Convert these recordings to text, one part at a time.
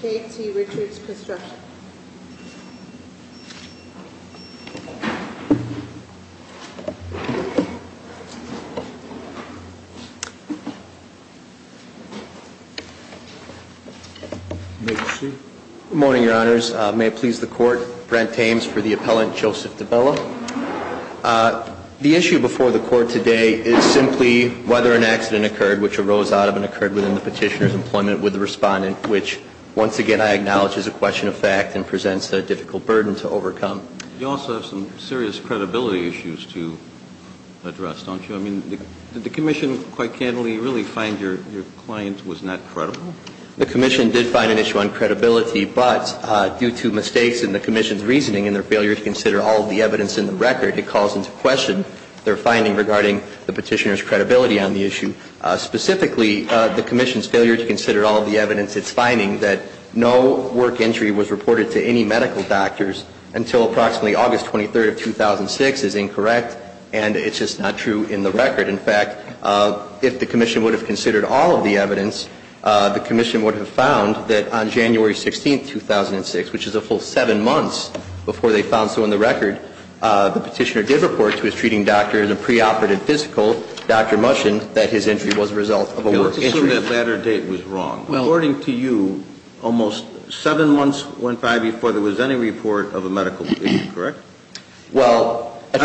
K.T. Richards Construction Good morning, your honors. May it please the court, Brent Ames for the appellant, Joseph The issue before the court today is simply whether an accident occurred which arose out of and occurred within the petitioner's employment with the respondent, which, once again, I acknowledge is a question of fact and presents a difficult burden to overcome. You also have some serious credibility issues to address, don't you? I mean, did the commission, quite candidly, really find your client was not credible? The commission did find an issue on credibility, but due to mistakes in the commission's record, it calls into question their finding regarding the petitioner's credibility on the issue. Specifically, the commission's failure to consider all of the evidence it's finding that no work entry was reported to any medical doctors until approximately August 23rd of 2006 is incorrect, and it's just not true in the record. In fact, if the commission would have considered all of the evidence, the commission would have found that on January 16th, 2006, which is a full seven months before they reported the accident, the petitioner did report to his treating doctor in a preoperative physical, the doctor mentioned that his entry was a result of a work entry. I assume that latter date was wrong. According to you, almost seven months went by before there was any report of a medical injury, correct? Well, a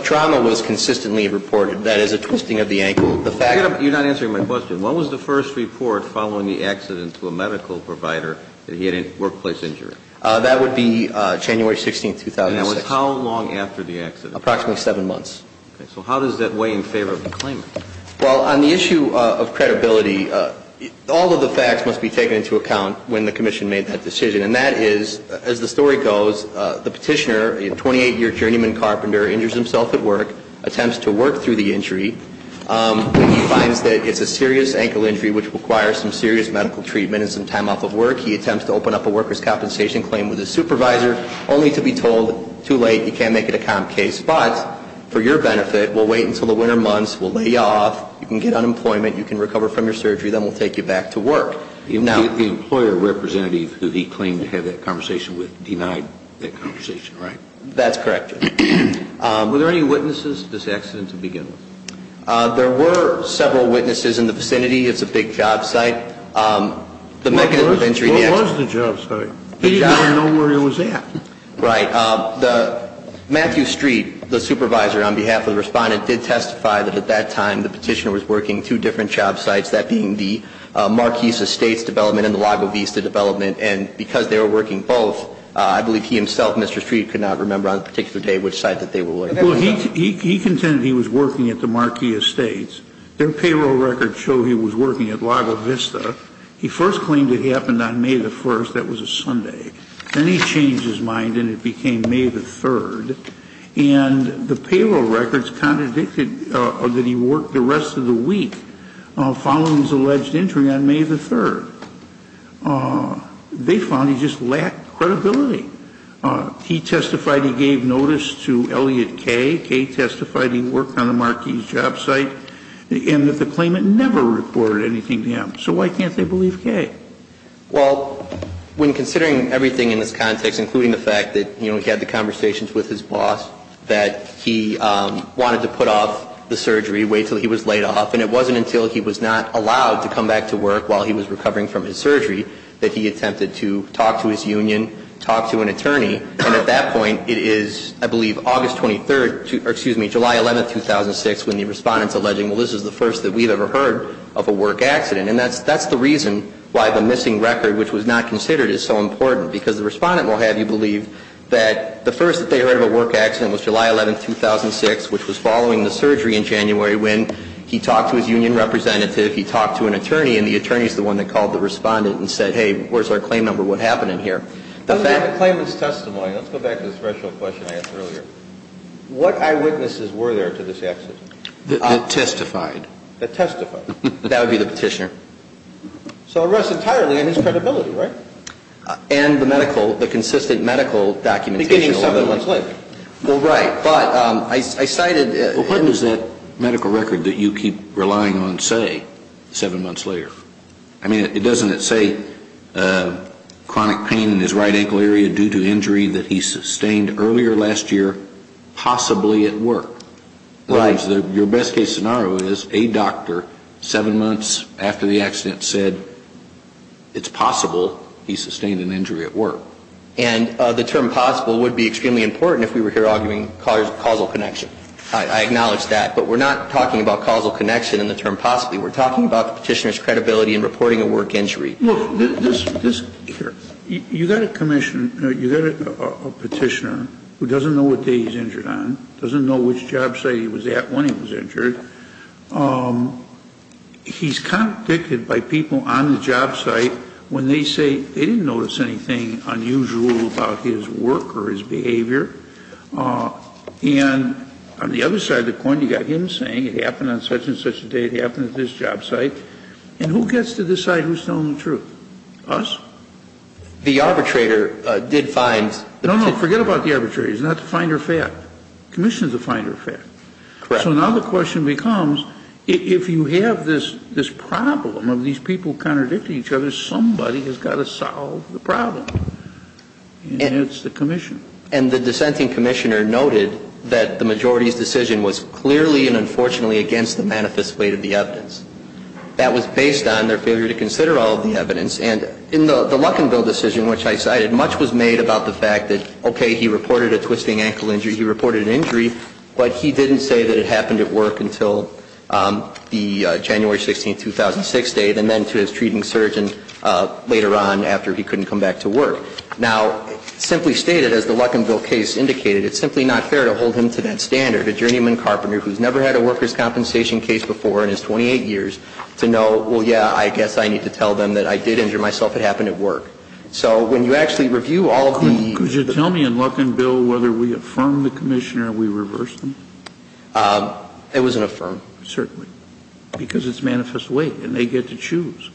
trauma was consistently reported. That is a twisting of the ankle. You're not answering my question. When was the first report following the accident to a medical provider that he had a workplace injury? That would be January 16th, 2006. And that was how long after the accident? Approximately seven months. Okay. So how does that weigh in favor of the claimant? Well, on the issue of credibility, all of the facts must be taken into account when the commission made that decision, and that is, as the story goes, the petitioner, a 28-year journeyman carpenter, injures himself at work, attempts to work through the injury. When he finds that it's a serious ankle injury which requires some serious medical treatment and some time off of work, he attempts to open up a workers' compensation claim with his supervisor, only to be told, too late, you can't make it a comp case, but for your benefit, we'll wait until the winter months, we'll lay you off, you can get unemployment, you can recover from your surgery, then we'll take you back to work. The employer representative who he claimed to have that conversation with denied that conversation, right? That's correct, Judge. Were there any witnesses at this accident to begin with? There were several witnesses in the vicinity. It's a big job site. What was the job site? He didn't even know where he was at. Right. Matthew Street, the supervisor on behalf of the respondent, did testify that at that time the petitioner was working two different job sites, that being the Marquis Estates development and the Lago Vista development, and because they were working both, I believe he himself, Mr. Street, could not remember on the particular day which site that they were working. Well, he contended he was working at the Marquis Estates. Their payroll records show he was working at Lago Vista. He first claimed it happened on May the 1st. That was a Sunday. Then he changed his mind and it became May the 3rd. And the payroll records contradicted that he worked the rest of the week following his alleged injury on May the 3rd. They found he just lacked credibility. He testified he gave notice to Elliot Kaye. Kaye testified he worked on the Marquis job site and that the claimant never reported anything to him. So why can't they believe Kaye? Well, when considering everything in this context, including the fact that he had the conversations with his boss, that he wanted to put off the surgery, wait until he was laid off, and it wasn't until he was not allowed to come back to work while he was recovering from his surgery that he attempted to talk to his union, talk to an attorney, and at that point, it is, I believe, August 23rd, excuse me, July 11th, 2006, when the Respondent's alleging, well, this is the first that we've ever heard of a work accident. And that's the reason why the missing record, which was not considered, is so important. Because the Respondent will have you believe that the first that they heard of a work accident was July 11th, 2006, which was following the surgery in January when he talked to his union representative, he talked to an attorney, and the attorney's the one that called the Respondent and said, hey, where's our claim number, what happened in here? The claimant's testimony, let's go back to the special question I asked earlier, what eyewitnesses were there to this accident? That testified. That testified. That would be the petitioner. So it rests entirely on his credibility, right? And the medical, the consistent medical documentation. Beginning seven months later. Well, right, but I cited. Well, what does that medical record that you keep relying on say seven months later? I mean, it doesn't say chronic pain in his right ankle area due to injury that he sustained earlier last year, possibly at work. Right. Your best case scenario is a doctor, seven months after the accident, said it's possible he sustained an injury at work. And the term possible would be extremely important if we were here arguing causal connection. I acknowledge that. But we're not talking about causal connection in the term possibly. We're talking about the petitioner's credibility in reporting a work injury. Look, you've got a commissioner, you've got a petitioner who doesn't know what day he's injured on, doesn't know which job site he was at when he was injured. He's convicted by people on the job site when they say they didn't notice anything unusual about his work or his behavior. And on the other side of the coin, you've got him saying it happened on such and such a day, it happened at this job site. And who gets to decide who's telling the truth? Us? The arbitrator did find the petitioner. No, no, forget about the arbitrator. It's not the finder of fact. The commissioner is the finder of fact. Correct. So now the question becomes, if you have this problem of these people contradicting each other, somebody has got to solve the problem. And it's the commissioner. And the dissenting commissioner noted that the majority's decision was clearly and unfortunately against the manifest weight of the evidence. That was based on their failure to consider all of the evidence. And in the Luckinville decision, which I cited, much was made about the fact that, okay, he reported a twisting ankle injury. He reported an injury, but he didn't say that it happened at work until the January 16, 2006 date, and then to his treating surgeon later on after he couldn't come back to work. Now, simply stated, as the Luckinville case indicated, it's simply not fair to hold him to that standard, a journeyman carpenter who's never had a workers' compensation case before in his 28 years, to know, well, yeah, I guess I need to tell them that I did injure myself. It happened at work. So when you actually review all of the ---- Could you tell me in Luckinville whether we affirm the commissioner or we reverse them? It wasn't affirmed. Certainly. Because it's manifest weight, and they get to choose.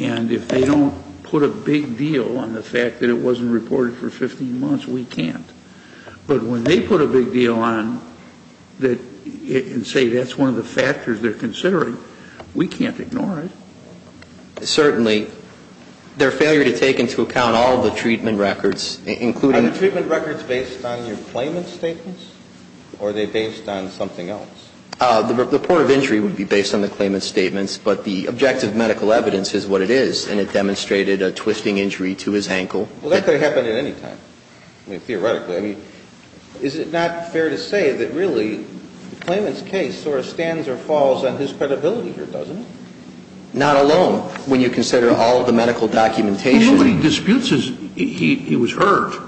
And if they don't put a big deal on the fact that it wasn't reported for 15 months, we can't. But when they put a big deal on and say that's one of the factors they're considering, we can't ignore it. Certainly. Their failure to take into account all the treatment records, including ---- Are the treatment records based on your claimant's statements, or are they based on something else? The report of injury would be based on the claimant's statements, but the objective medical evidence is what it is, and it demonstrated a twisting injury to his ankle. Well, that could have happened at any time. I mean, theoretically. I mean, is it not fair to say that really the claimant's case sort of stands or falls on his credibility here, doesn't it? Not alone, when you consider all of the medical documentation. Well, nobody disputes his ---- he was hurt.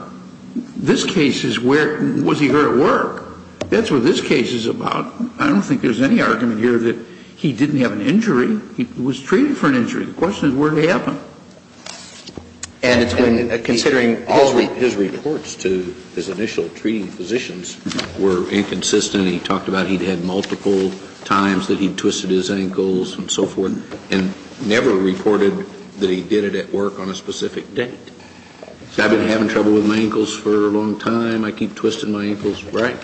This case is where ---- was he hurt at work? That's what this case is about. I don't think there's any argument here that he didn't have an injury. He was treated for an injury. The question is where it happened. And it's when considering all the ---- His reports to his initial treating physicians were inconsistent. He talked about he'd had multiple times that he'd twisted his ankles and so forth, and never reported that he did it at work on a specific date. I've been having trouble with my ankles for a long time. I keep twisting my ankles. Right?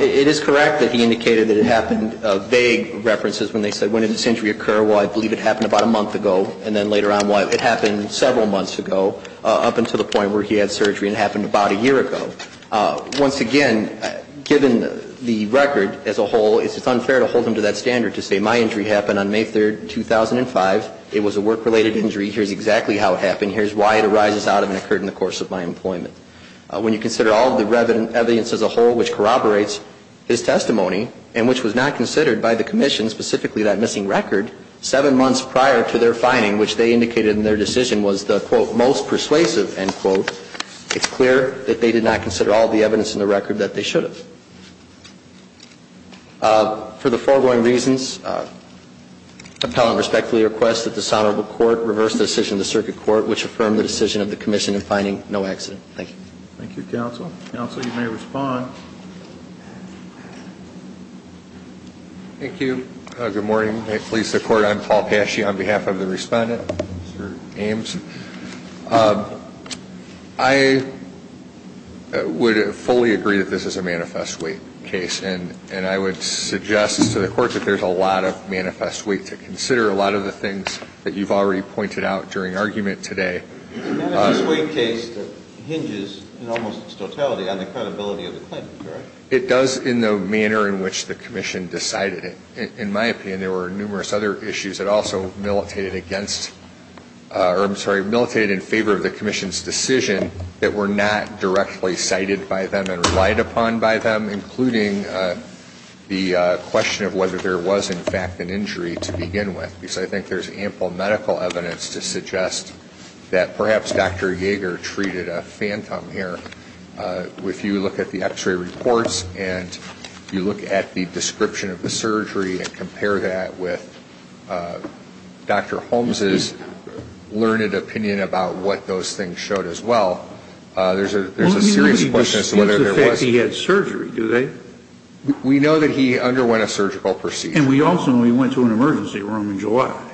It is correct that he indicated that it happened. And vague references when they said, when did this injury occur? Well, I believe it happened about a month ago. And then later on, well, it happened several months ago, up until the point where he had surgery. And it happened about a year ago. Once again, given the record as a whole, it's unfair to hold him to that standard to say my injury happened on May 3, 2005. It was a work-related injury. Here's exactly how it happened. Here's why it arises out of and occurred in the course of my employment. When you consider all of the evidence as a whole which corroborates his testimony and which was not considered by the Commission, specifically that missing record, seven months prior to their finding, which they indicated in their decision was the, quote, most persuasive, end quote, it's clear that they did not consider all of the evidence in the record that they should have. For the foregoing reasons, appellant respectfully requests that this honorable court reverse the decision of the circuit court, which affirmed the decision of the Commission in finding no accident. Thank you. Thank you, counsel. Counsel, you may respond. Thank you. Good morning. May it please the Court, I'm Paul Pasci on behalf of the respondent, Mr. Ames. I would fully agree that this is a manifest weight case, and I would suggest to the Court that there's a lot of manifest weight to consider, a lot of the things that you've already pointed out during argument today. It's a manifest weight case that hinges in almost its totality on the credibility of the claimant, correct? It does in the manner in which the Commission decided it. In my opinion, there were numerous other issues that also militated against, or I'm sorry, militated in favor of the Commission's decision that were not directly cited by them and relied upon by them, including the question of whether there was, in fact, an injury to begin with, because I think there's ample medical evidence to suggest that perhaps Dr. Jaeger treated a phantom here. If you look at the x-ray reports and you look at the description of the surgery and compare that with Dr. Holmes' learned opinion about what those things showed as well, there's a serious question as to whether there was. Well, he doesn't dispute the fact that he had surgery, do they? We know that he underwent a surgical procedure. And we also know he went to an emergency room in July.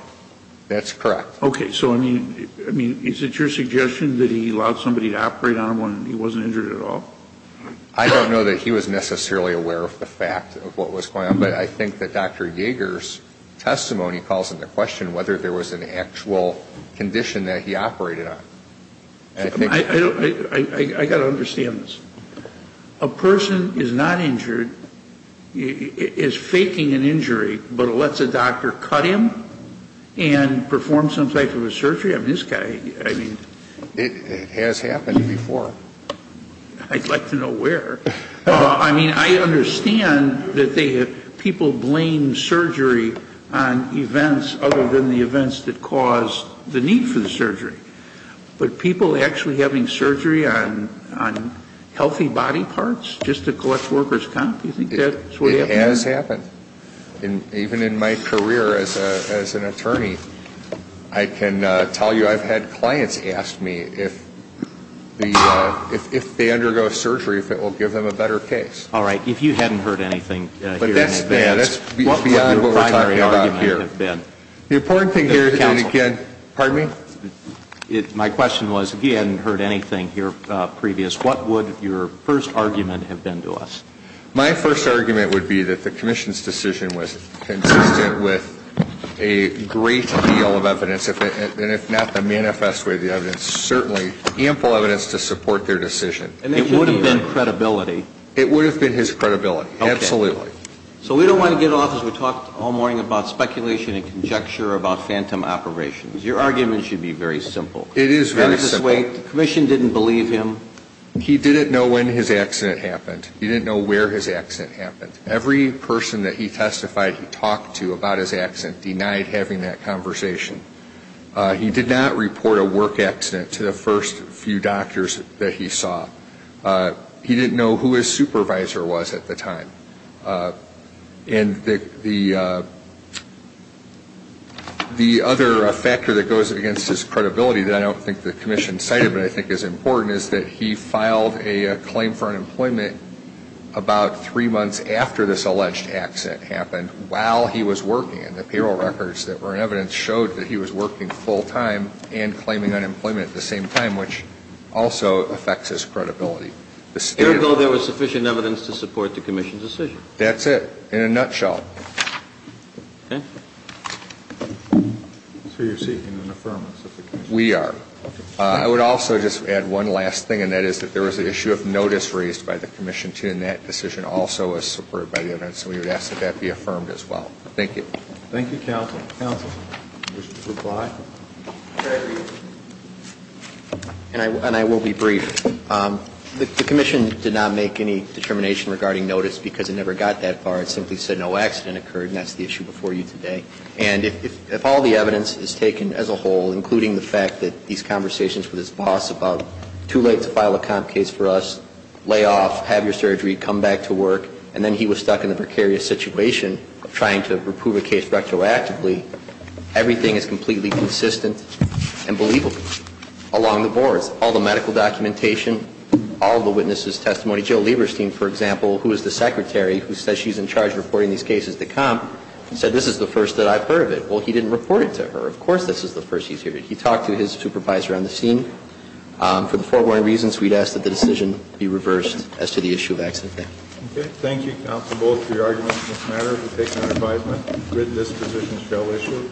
That's correct. Okay. So, I mean, is it your suggestion that he allowed somebody to operate on him when he wasn't injured at all? I don't know that he was necessarily aware of the fact of what was going on, but I think that Dr. Jaeger's testimony calls into question whether there was an actual condition that he operated on. I got to understand this. A person is not injured, is faking an injury, but lets a doctor cut him and perform some type of a surgery? I mean, this guy, I mean. It has happened before. I'd like to know where. I mean, I understand that people blame surgery on events other than the events that caused the need for the surgery. But people actually having surgery on healthy body parts just to collect workers' comp, do you think that's what happened? It has happened. Even in my career as an attorney, I can tell you I've had clients ask me if they undergo surgery if it will give them a better case. All right. If you hadn't heard anything here in advance, what would your primary argument have been? The important thing here, and again, pardon me? My question was, if you hadn't heard anything here previous, what would your first argument have been to us? My first argument would be that the commission's decision was consistent with a great deal of evidence, and if not the manifest way of the evidence, certainly ample evidence to support their decision. It would have been credibility. It would have been his credibility, absolutely. So we don't want to get off as we talked all morning about speculation and conjecture about phantom operations. Your argument should be very simple. It is very simple. Manifest way, the commission didn't believe him. He didn't know when his accident happened. He didn't know where his accident happened. Every person that he testified he talked to about his accident denied having that conversation. He did not report a work accident to the first few doctors that he saw. He didn't know who his supervisor was at the time. And the other factor that goes against his credibility that I don't think the commission cited but I think is important is that he filed a claim for unemployment about three months after this alleged accident happened while he was working, and the payroll records that were in evidence showed that he was working full time and claiming unemployment at the same time, which also affects his credibility. There was sufficient evidence to support the commission's decision. That's it, in a nutshell. Okay. So you're seeking an affirmance of the commission. We are. I would also just add one last thing, and that is that there was an issue of notice raised by the commission, too, and that decision also was supported by the evidence, and we would ask that that be affirmed as well. Thank you. Thank you, counsel. And I will be brief. The commission did not make any determination regarding notice because it never got that far. It simply said no accident occurred, and that's the issue before you today. And if all the evidence is taken as a whole, including the fact that these conversations with his boss about too late to file a comp case for us, lay off, have your surgery, come back to work, and then he was stuck in a precarious situation of trying to approve a case retroactively, everything is completely consistent and believable along the boards. All the medical documentation, all the witnesses' testimony. Jill Lieberstein, for example, who is the secretary who says she's in charge of reporting these cases to comp, said this is the first that I've heard of it. Well, he didn't report it to her. Of course this is the first he's heard of it. He talked to his supervisor on the scene. For the foregoing reasons, we'd ask that the decision be reversed as to the issue of accident there. Okay. Thank you, counsel, both for your arguments in this matter. We'll take an advisement that this position shall issue.